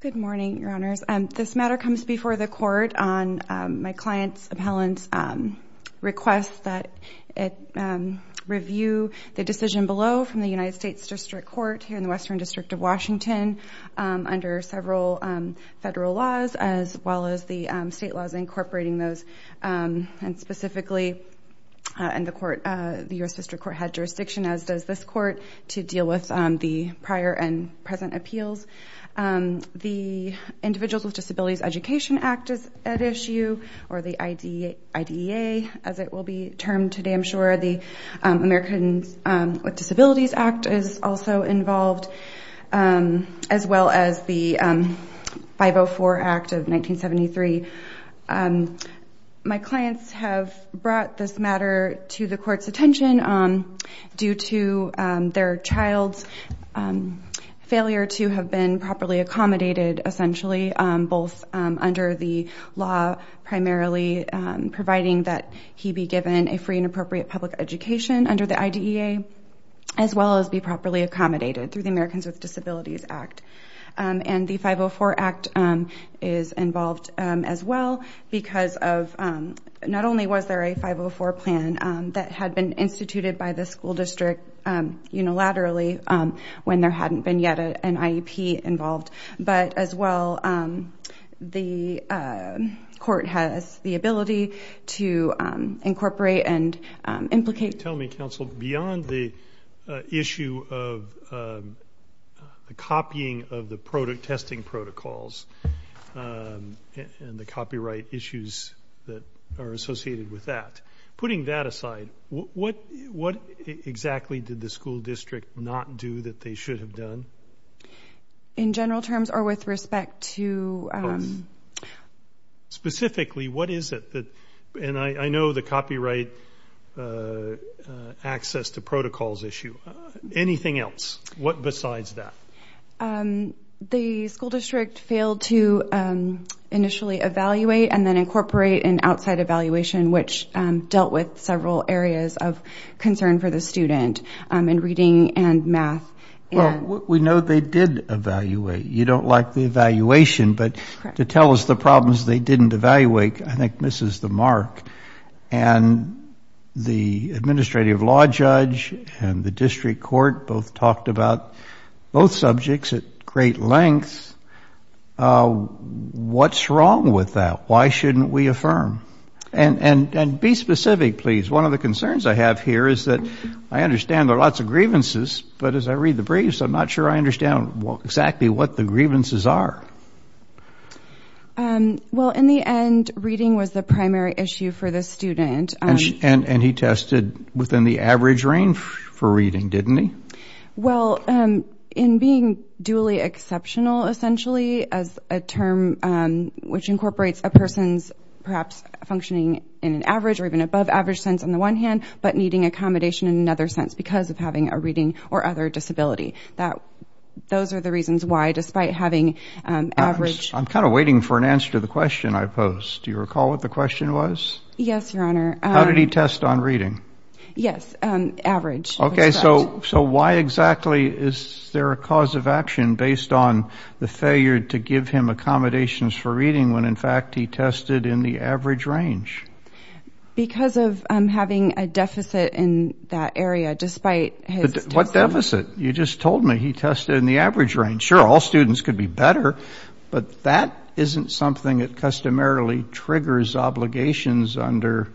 Good morning, Your Honors. This matter comes before the court on my client's appellant's request that it review the decision below from the United States District Court here in the Western District of Washington under several federal laws as well as the state laws incorporating those and specifically the U.S. District Court had jurisdiction as does this court to deal with the prior and present appeals. The Individuals with Disabilities Education Act is at issue or the IDEA as it will be termed today I'm sure. The Americans with Disabilities Act is also involved as well as the 504 Act of 1973. My clients have brought this matter to the court's attention due to their child's failure to have been properly accommodated essentially both under the law primarily providing that he be given a free and appropriate public education under the IDEA as well as be properly accommodated through the Americans with Disabilities Act and the 504 Act is involved as well because of not only was there a 504 plan that had been instituted by the school district unilaterally when there hadn't been yet an IEP involved but as well the court has the ability to incorporate and implicate. Tell me counsel beyond the issue of the copying of the testing protocols and the copyright issues that are associated with that putting that aside what exactly did the school district not do that they should have done? In general terms or with respect to specifically what is it that and I know the copyright access to protocols issue anything else what besides that? The school district failed to initially evaluate and then incorporate an outside evaluation which dealt with several areas of concern for the student in reading and math. We know they did evaluate you don't like the evaluation but to tell us the problems they didn't evaluate I think misses the mark and the administrative law judge and the district court both talked about both subjects at great lengths what's wrong with that why shouldn't we affirm? And be specific please one of the concerns I have here is that I understand there are lots of grievances but as I read the briefs I'm not sure I understand what exactly what the grievances are. Well in the end reading was the primary issue for the student and and he tested within the average range for reading didn't he? Well in being duly exceptional essentially as a term which incorporates a person's perhaps functioning in an average or even above average sense on the one hand but needing accommodation in another sense because of having a reading or other disability that those are the reasons why despite having average. I'm kind of waiting for an answer to the question I posed do you recall what the question was? Yes your honor. How did he test on reading? Yes average. Okay so so why exactly is there a cause of action based on the failure to give him accommodations for reading when in fact he tested in the average range? Because of having a deficit in that area despite. What deficit? You just told me he tested in the average range. Sure all students could be better but that isn't something that customarily triggers obligations under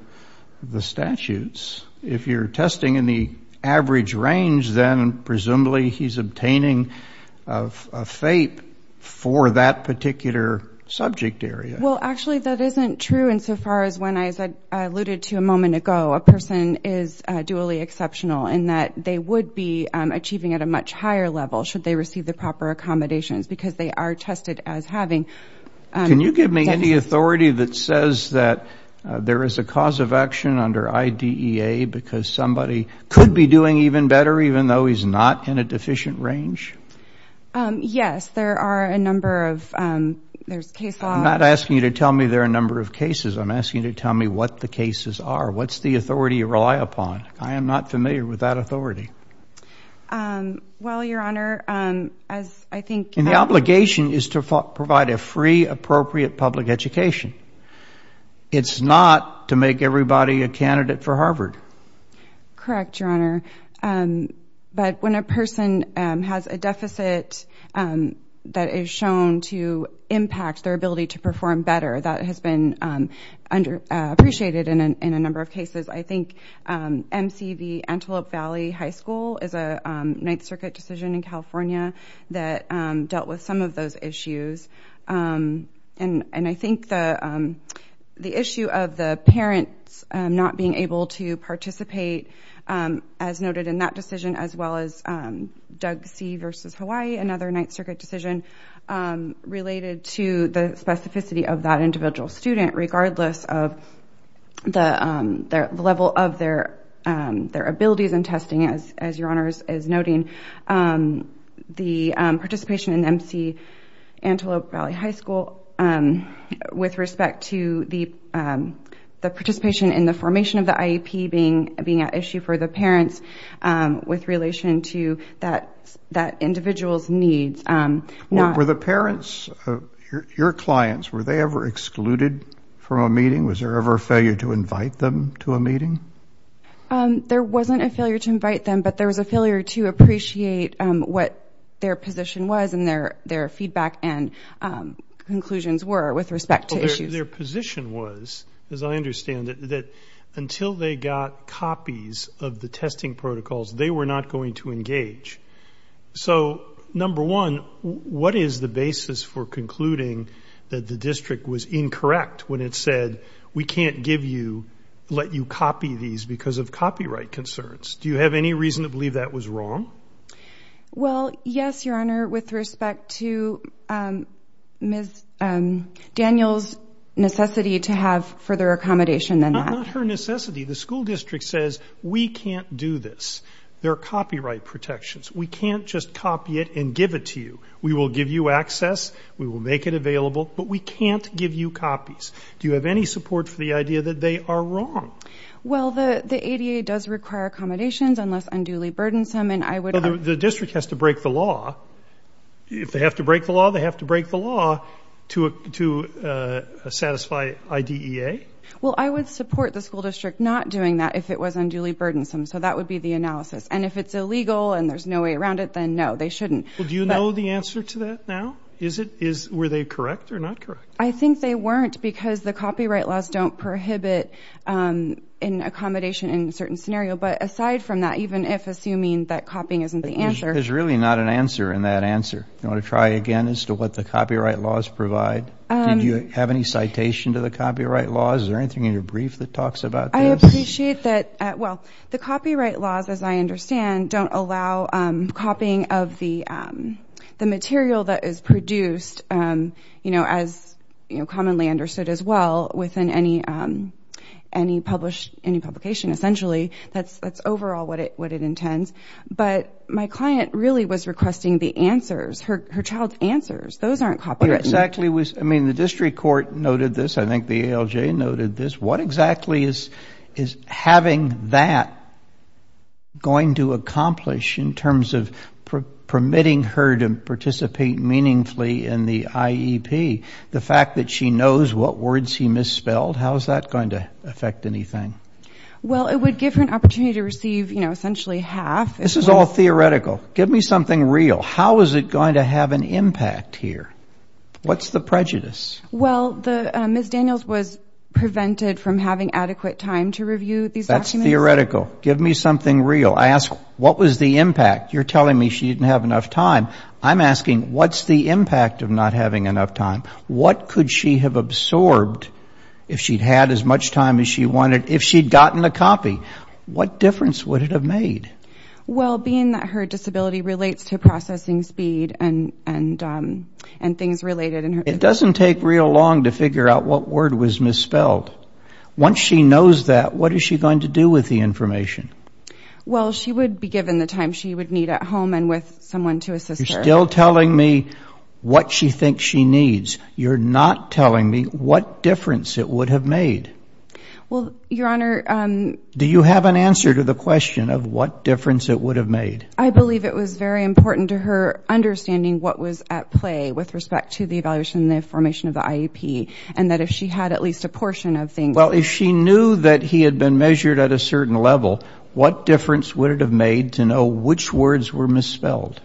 the statutes. If you're testing in the average range then presumably he's obtaining a FAPE for that particular subject area. Well actually that isn't true insofar as when I said alluded to a moment ago a person is duly exceptional in that they would be achieving at a much higher level should they receive the proper accommodations because they are tested as having. Can you give me any authority that says that there is a cause of action under IDEA because somebody could be doing even better even though he's not in a deficient range? Yes there are a number of there's case law. I'm not asking you to tell me there are a number of cases I'm asking you tell me what the cases are. What's the authority you rely upon? I am not familiar with that authority. Well your honor as I think. The obligation is to provide a free appropriate public education. It's not to make everybody a candidate for Harvard. Correct your honor but when a person has a deficit that is shown to impact their ability to perform better that has been under appreciated in a number of cases. I think MCV Antelope Valley High School is a Ninth Circuit decision in California that dealt with some of those issues and and I think the the issue of the parents not being able to another Ninth Circuit decision related to the specificity of that individual student regardless of the level of their their abilities and testing as your honors is noting the participation in MC Antelope Valley High School with respect to the the participation in the formation of the IEP being being an issue for the parents with relation to that that individual's needs. Were the parents of your clients were they ever excluded from a meeting? Was there ever a failure to invite them to a meeting? There wasn't a failure to invite them but there was a failure to appreciate what their position was and their their feedback and conclusions were with respect to issues. Their got copies of the testing protocols they were not going to engage. So number one what is the basis for concluding that the district was incorrect when it said we can't give you let you copy these because of copyright concerns. Do you have any reason to believe that was wrong? Well yes your honor with respect to Ms. Daniels necessity to have further accommodation than that. Under necessity the school district says we can't do this. There are copyright protections. We can't just copy it and give it to you. We will give you access. We will make it available but we can't give you copies. Do you have any support for the idea that they are wrong? Well the the ADA does require accommodations unless unduly burdensome and I would. The district has to break the law. If they have to break the law they have to break the law to to satisfy IDEA. Well I would support the school district not doing that if it was unduly burdensome. So that would be the analysis and if it's illegal and there's no way around it then no they shouldn't. Do you know the answer to that now? Is it is were they correct or not correct? I think they weren't because the copyright laws don't prohibit in accommodation in certain scenario but aside from that even if assuming that copying isn't the answer. There's really not an answer in that answer. You want to try again as to what the copyright laws provide? Do you have any citation to the copyright laws? Is there anything in your brief that talks about this? I appreciate that well the copyright laws as I understand don't allow copying of the the material that is produced you know as you know commonly understood as well within any any published any publication essentially. That's that's overall what it what it intends but my client really was requesting the answers her her child's answers. Those aren't exactly was I mean the district court noted this I think the ALJ noted this what exactly is is having that going to accomplish in terms of permitting her to participate meaningfully in the IEP? The fact that she knows what words he misspelled how is that going to affect anything? Well it would give her an opportunity to receive you know essentially half. This is all theoretical give me something real. How is it going to have an impact here? What's the prejudice? Well the Ms. Daniels was prevented from having adequate time to review these documents. That's theoretical give me something real. I asked what was the impact? You're telling me she didn't have enough time. I'm asking what's the impact of not having enough time? What could she have absorbed if she'd had as much time as she wanted if she'd gotten a copy? What difference would it have made? Well being that her disability relates to processing speed and and and things related and it doesn't take real long to figure out what word was misspelled. Once she knows that what is she going to do with the information? Well she would be given the time she would need at home and with someone to assist. You're still telling me what she thinks she needs. You're not telling me what difference it would have made. Well your honor. Do you have an answer to the question of what difference it would have made? I believe it was very important to her understanding what was at play with respect to the evaluation the information of the IEP and that if she had at least a portion of things. Well if she knew that he had been measured at a certain level what difference would it have made to know which words were misspelled?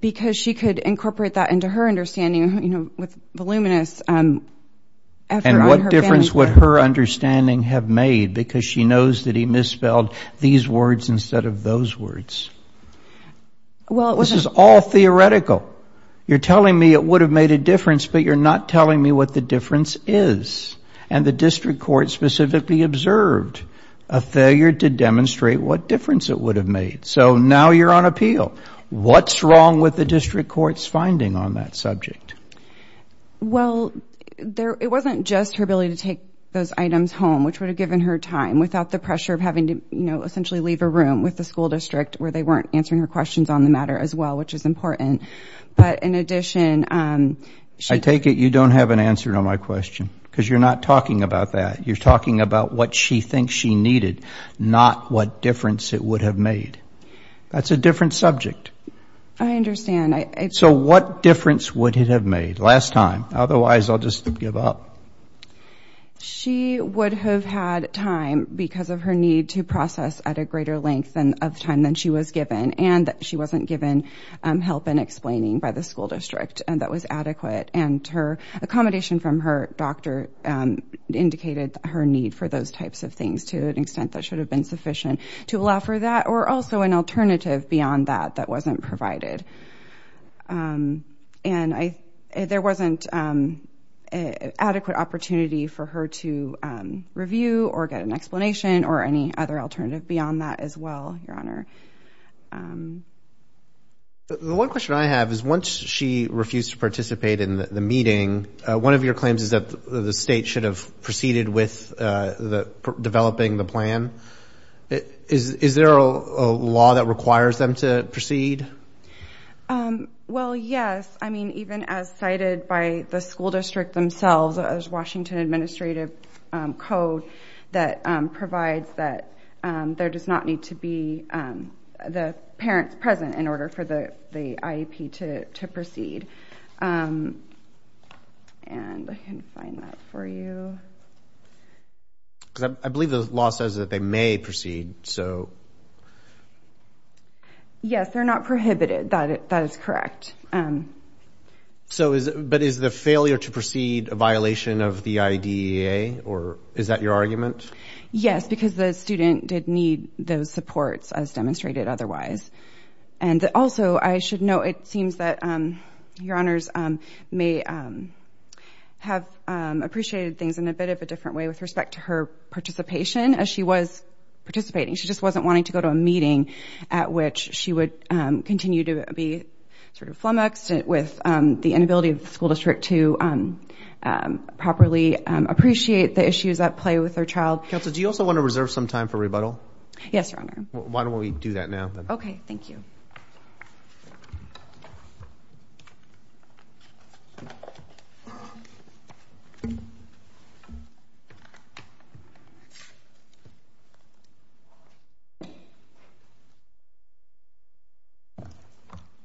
Because she could incorporate that into her understanding you know with voluminous effort. What difference would her understanding have made because she knows that he misspelled these words instead of those words? Well this is all theoretical. You're telling me it would have made a difference but you're not telling me what the difference is and the district court specifically observed a failure to demonstrate what difference it would have made. So now you're on appeal. What's wrong with the district court's finding on that subject? Well there it wasn't just her ability to take those items home which would have given her time without the pressure of having to you know essentially leave a room with the school district where they weren't answering her questions on the matter as well which is important. But in addition. I take it you don't have an answer to my question because you're not talking about that. You're talking about what she thinks she needed not what difference it would have made. That's a different subject. I understand. So what difference would it have made last time? Otherwise I'll just give up. She would have had time because of her need to process at a greater length and of time than she was given and she wasn't given help in explaining by the school district and that was adequate and her accommodation from her doctor indicated her need for those types of things to an extent that should have been sufficient to allow for that or also an alternative beyond that that wasn't provided. And I there wasn't an adequate opportunity for her to review or get an explanation or any other alternative beyond that as well your honor. The one question I have is once she refused to participate in the meeting one of your claims is that the state should have proceeded with developing the plan. Is there a law that requires them to proceed? Well yes. I mean even as cited by the school district themselves as Washington administrative code that provides that there does not need to be the parents present in order for the IEP to proceed. I believe the law says that they may proceed so. Yes they're not prohibited that that is correct. So is but is the failure to proceed a violation of the IDEA or is that your argument? Yes because the student did need those supports as demonstrated otherwise. And also I should note it seems that your honors may have appreciated things in a bit of a different way with respect to her participation as she was participating. She just wasn't wanting to go to a meeting at which she would continue to be sort of flummoxed with the inability of the school district to properly appreciate the issues at play with her child. Counsel do you also want to reserve some time for rebuttal? Yes your honor. Why don't we do that now? Okay thank you.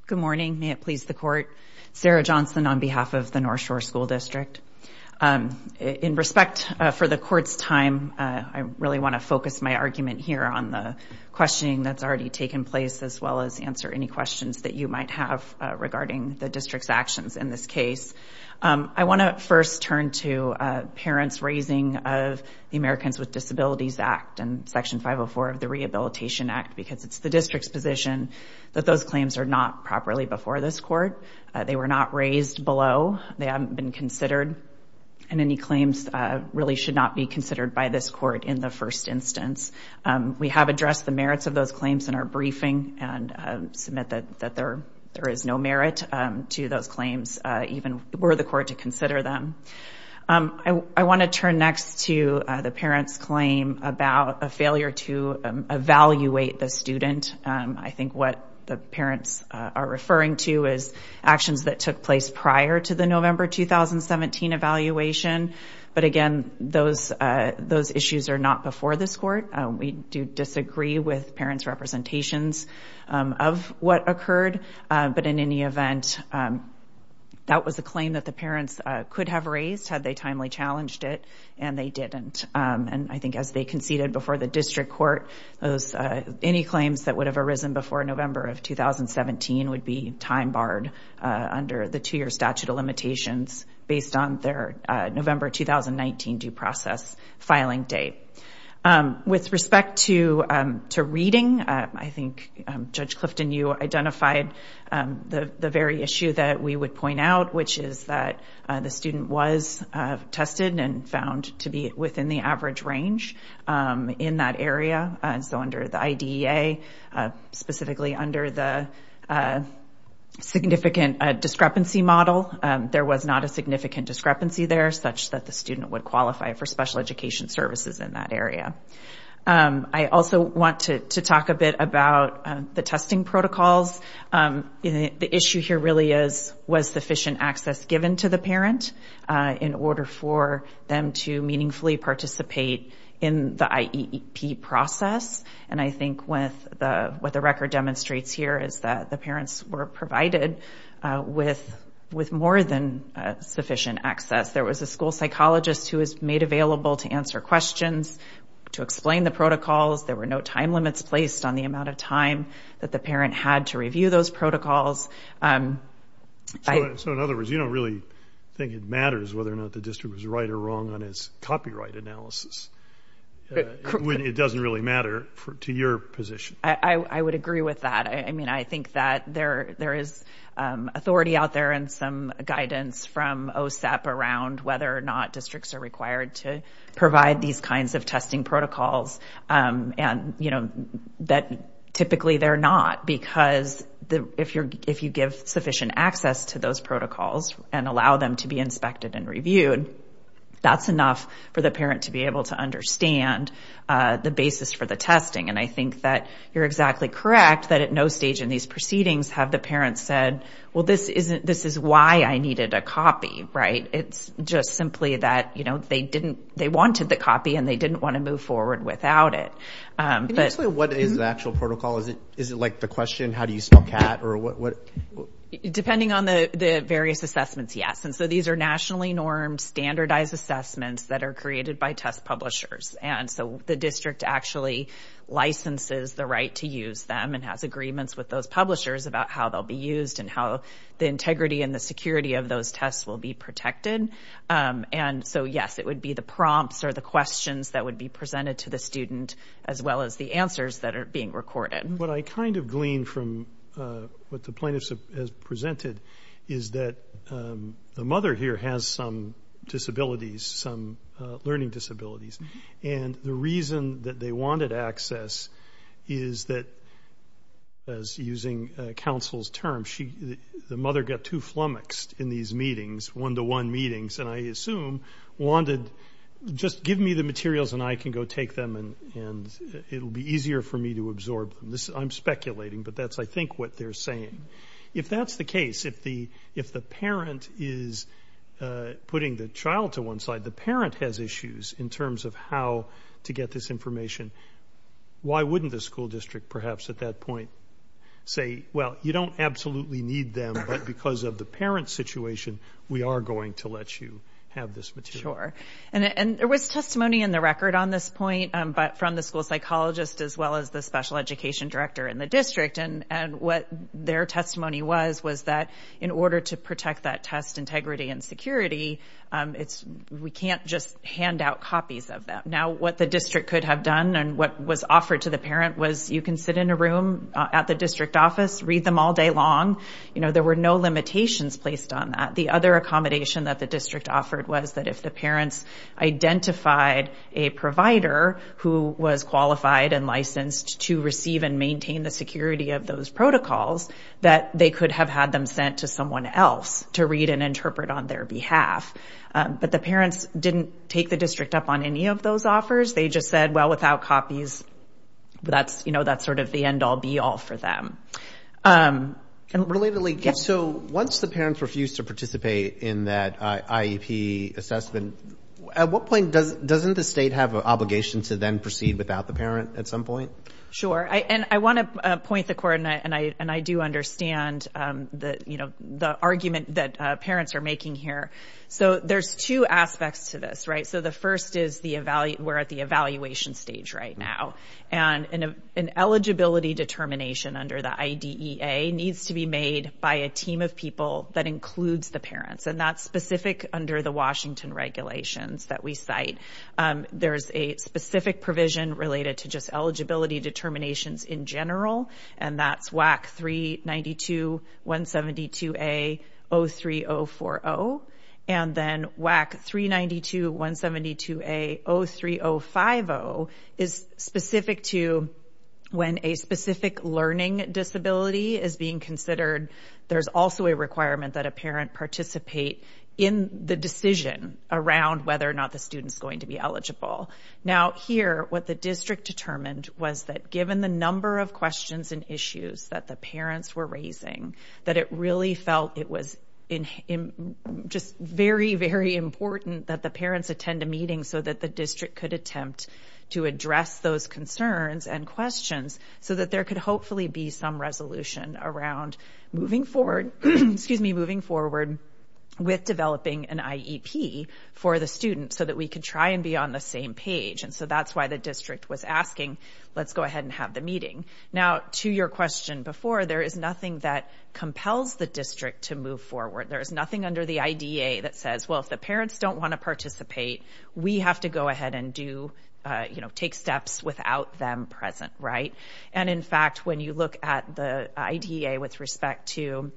Good morning may it please the court. Sarah Johnson on behalf of the North Shore School District. In respect for the court's time I really want to focus my argument here on the questioning that's already taken place as well as answer any questions that you might have regarding the district's actions in this case. I want to first turn to parents raising of the Americans with Disabilities Act and section 504 of the Rehabilitation Act because it's the district's position that those claims are not properly before this court. They were not raised below. They haven't been considered and any claims really should not be considered by this court in first instance. We have addressed the merits of those claims in our briefing and submit that there is no merit to those claims even were the court to consider them. I want to turn next to the parents claim about a failure to evaluate the student. I think what the parents are referring to is actions that took place prior to the November 2017 evaluation but again those issues are not before this court. We do disagree with parents representations of what occurred but in any event that was a claim that the parents could have raised had they timely challenged it and they didn't. I think as they conceded before the district court those any claims that the two-year statute of limitations based on their November 2019 due process filing date. With respect to reading I think Judge Clifton you identified the very issue that we would point out which is that the student was tested and found to be within the average range in that area and so the IDEA specifically under the significant discrepancy model there was not a significant discrepancy there such that the student would qualify for special education services in that area. I also want to to talk a bit about the testing protocols. The issue here really is was sufficient access given to the parent in order for them to meaningfully participate in the IEP process and I think with the what the record demonstrates here is that the parents were provided with with more than sufficient access. There was a school psychologist who was made available to answer questions, to explain the protocols, there were no time limits placed on the amount of time that the parent had to review those protocols. So in other words you don't really think it matters whether or not the district was right or wrong on its copyright analysis. It doesn't really matter to your position. I would agree with that. I mean I think that there is authority out there and some guidance from OSAP around whether or not districts are required to provide these kinds of testing protocols and you know that typically they're not because the if you're if you give sufficient access to those protocols and allow them to be inspected and reviewed that's enough for the parent to be able to understand the basis for the testing and I think that you're exactly correct that at no stage in these proceedings have the parents said well this isn't this is why I needed a copy right it's just simply that you know they didn't they wanted the copy and they didn't want to move forward without it. Can you like the question how do you spell cat or what? Depending on the the various assessments yes and so these are nationally normed standardized assessments that are created by test publishers and so the district actually licenses the right to use them and has agreements with those publishers about how they'll be used and how the integrity and the security of those tests will be protected and so yes it would be the prompts or the questions that would be presented to the student as well as the answers that are being recorded. What I kind of gleaned from what the plaintiffs has presented is that the mother here has some disabilities some learning disabilities and the reason that they wanted access is that as using counsel's term she the mother got too flummoxed in these meetings one-to-one meetings and I assume wanted just give me the materials and I can go take them and and it'll be easier for me to absorb this I'm speculating but that's I think what they're saying if that's the case if the if the parent is putting the child to one side the parent has issues in terms of how to get this information why wouldn't the school district perhaps at that point say well you don't absolutely need them but because of the parent situation we are going to let you have this material and there was testimony in the record on this point but from the school psychologist as well as the special education director in the district and and what their testimony was was that in order to protect that test integrity and security it's we can't just hand out copies of them now what the district could have done and what was offered to the parent was you can sit in a room at the district office read them all day long you know there were no limitations placed on that the other accommodation that the district offered was that if the parents identified a provider who was qualified and licensed to receive and maintain the security of those protocols that they could have had them sent to someone else to read and interpret on their behalf but the parents didn't take the district up on any of those offers they just said well without copies that's you know that's sort of the end-all be-all for them. Relatedly so once the parents refuse to participate in that IEP assessment at what point does doesn't the state have an obligation to then proceed without the parent at some point? Sure I and I want to point the coordinate and I and I do understand the you know the argument that parents are making here so there's two aspects to this right so the first is we're at the evaluation stage right now and an eligibility determination under the IDEA needs to be made by a team of people that includes the parents and that's specific under the Washington regulations that we cite there's a specific provision related to just eligibility 03050 is specific to when a specific learning disability is being considered there's also a requirement that a parent participate in the decision around whether or not the student's going to be eligible. Now here what the district determined was that given the number of questions and issues that the parents were raising that it really felt it was in just very very important that the parents attend a meeting so that the district could attempt to address those concerns and questions so that there could hopefully be some resolution around moving forward excuse me moving forward with developing an IEP for the student so that we could try and be on the same page and so that's why the district was asking let's go ahead and have the meeting. Now to your question before there is nothing that compels the district to move forward there is nothing under the IDEA that says well if the parents don't want to participate we have to go ahead and do you know take steps without them present right and in fact when you look at the IDEA with respect to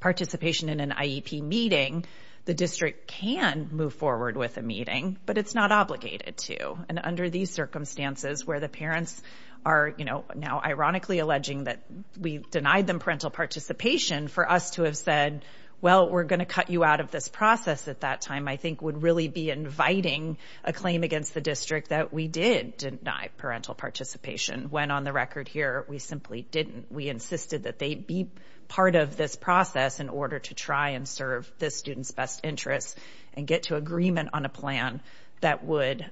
participation in an IEP meeting the district can move forward with a meeting but it's not obligated to and under these circumstances where the parents are you know now ironically alleging that we denied them parental participation for us to have said well we're going to cut you out of this process at that time I think would really be inviting a claim against the district that we did deny parental participation when on the record here we simply didn't we insisted that they be part of this process in order to try and serve this student's best interests and get to agreement on a plan that would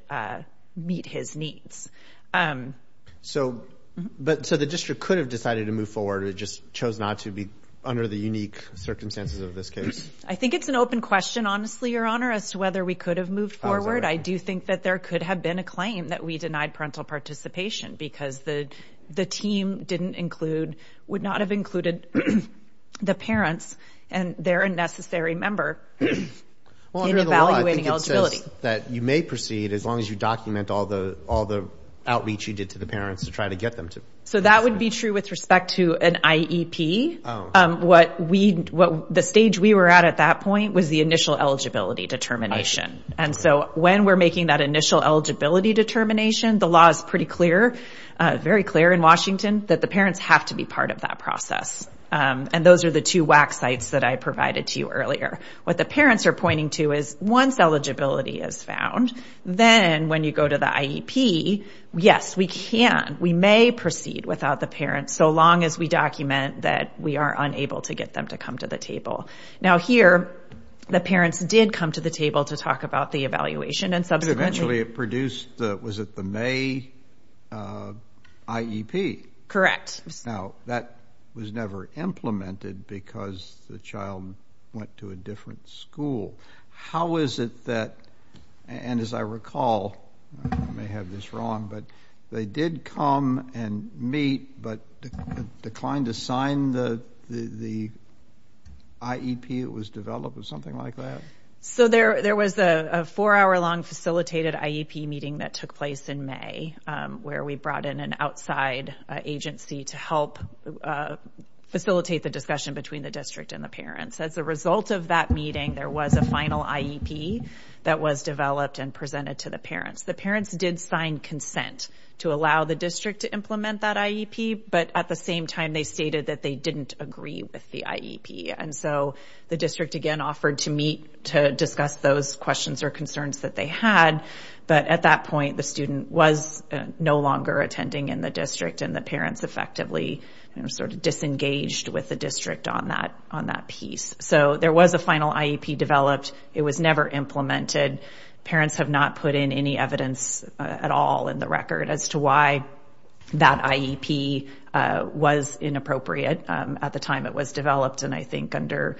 meet his needs. So but so the district could have decided to move forward or just chose not to be under the unique circumstances of this case? I think it's an open question honestly your honor as to whether we could have moved forward I do think that there could have been a claim that we denied parental participation because the the team didn't include would not have included the parents and they're a necessary member that you may proceed as long as you document all the all the outreach you did to the parents to try to get them to. So that would be true with respect to an IEP what we what the stage we were at at that point was the initial eligibility determination and so when we're making that initial eligibility determination the law is pretty clear very clear in Washington that the parents have to be part of that process and those are the two WAC sites that I provided to you earlier. What the parents are pointing to is once eligibility is found then when you go to the IEP yes we can we may proceed without the parents so long as we document that we are unable to get them to come to the table. Now here the parents did come to the IEP. Correct. Now that was never implemented because the child went to a different school how is it that and as I recall I may have this wrong but they did come and meet but declined to sign the the IEP it was developed or something like that? So there there was a four-hour long facilitated IEP meeting that took place in May where we brought in an outside agency to help facilitate the discussion between the district and the parents. As a result of that meeting there was a final IEP that was developed and presented to the parents. The parents did sign consent to allow the district to implement that IEP but at the same time they stated that they didn't agree with the IEP and so the district again offered to meet to discuss those questions or concerns that they had but at that point the student was no longer attending in the district and the parents effectively sort of disengaged with the district on that on that piece. So there was a final IEP developed it was never implemented parents have not put in any evidence at all in the record as to why that IEP was inappropriate at the time it was developed and I think under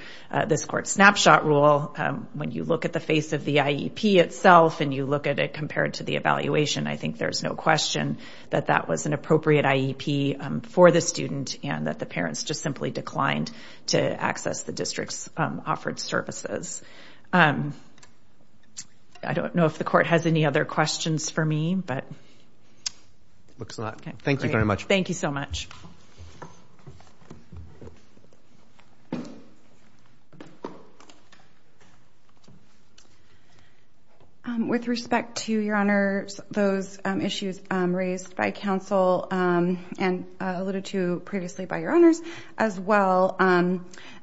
this court snapshot rule when you look at the face of the IEP itself and you look at it compared to the evaluation I think there's no question that that was an appropriate IEP for the student and that the parents just simply declined to access the district's offered services. I don't know if the court has any other questions for me but looks like thank you very much. Thank you so much. With respect to your honors those issues raised by counsel and alluded to previously by your honors as well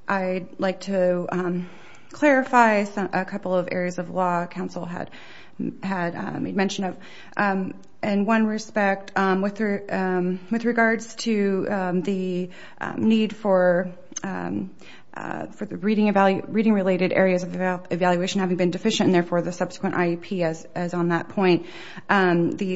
I'd like to clarify a couple of areas of law counsel had had a mention of in one respect with regards to the need for the reading related areas of evaluation having been deficient and therefore the subsequent IEP as on that point. The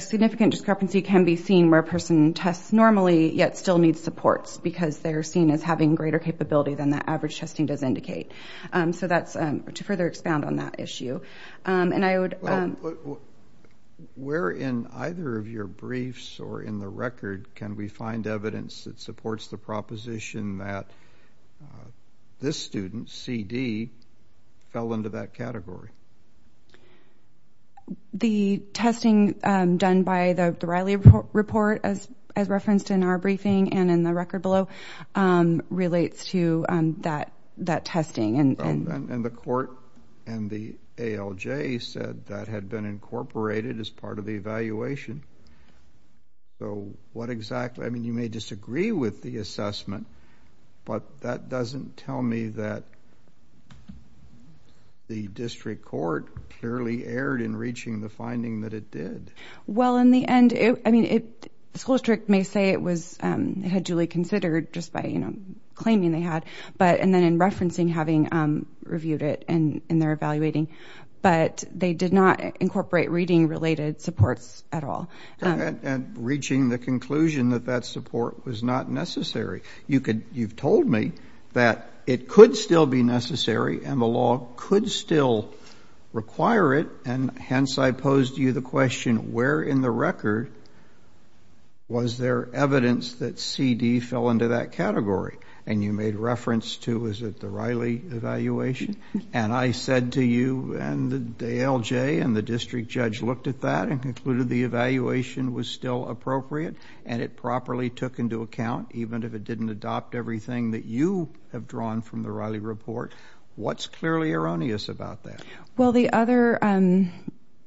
significant discrepancy can be seen where a person tests normally yet still needs supports because they're seen as having greater capability than the average testing does indicate. So that's to further expound on that issue and I would. Where in either of your briefs or in the record can we find evidence that supports the proposition that this student CD fell into that category? The testing done by the Riley report as as referenced in our briefing and in the record below relates to that that testing and and the court and the ALJ said that had been incorporated as part of the evaluation. So what exactly I mean you may disagree with the assessment but that doesn't tell me that the district court clearly erred in reaching the finding that it did. Well in the end it I mean it school district may say it was had duly considered just by you know claiming they had but and then in referencing having reviewed it and in their evaluating but they did not incorporate reading related supports at all. And reaching the conclusion that that support was not necessary. You could you've told me that it could still be necessary and the law could still require it and hence I posed you the question where in the record was there evidence that CD fell into that category and you made reference to is it the Riley evaluation and I said to you and the ALJ and the district judge looked at that and concluded the evaluation was still appropriate and it properly took into account even if it didn't adopt everything that you have drawn from the Riley report. What's clearly erroneous about that? Well the other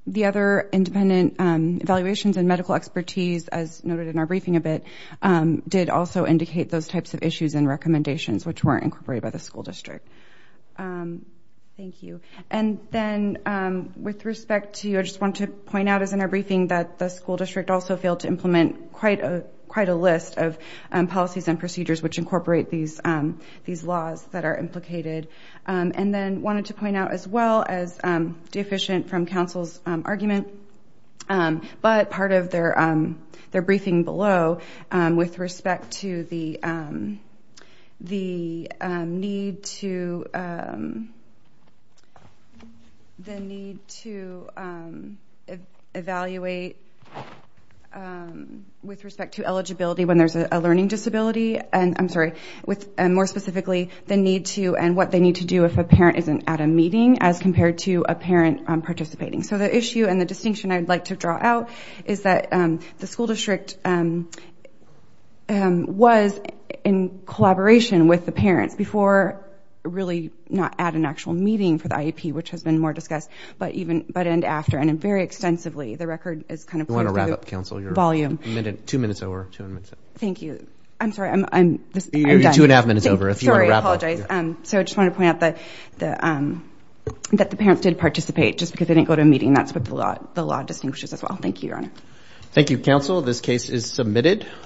the other independent evaluations and medical expertise as noted in our briefing a bit did also indicate those types of issues and recommendations which were incorporated by the school district. Thank you and then with respect to you I just want to point out as in our briefing that the school district also failed to implement quite a quite a list of policies and these laws that are implicated and then wanted to point out as well as deficient from council's argument but part of their briefing below with respect to the need to the need to evaluate with respect to eligibility when there's a learning disability and I'm sorry with more specifically the need to and what they need to do if a parent isn't at a meeting as compared to a parent participating. So the issue and the distinction I'd like to draw out is that the school district was in collaboration with the parents before really not at an actual meeting for the IEP which has been more discussed but even but and after and very extensively the you I'm sorry I'm two and a half minutes over if you want to wrap up. So I just want to point out that the parents did participate just because they didn't go to a meeting that's what the law the law distinguishes as well. Thank you your honor. Thank you counsel this case is submitted.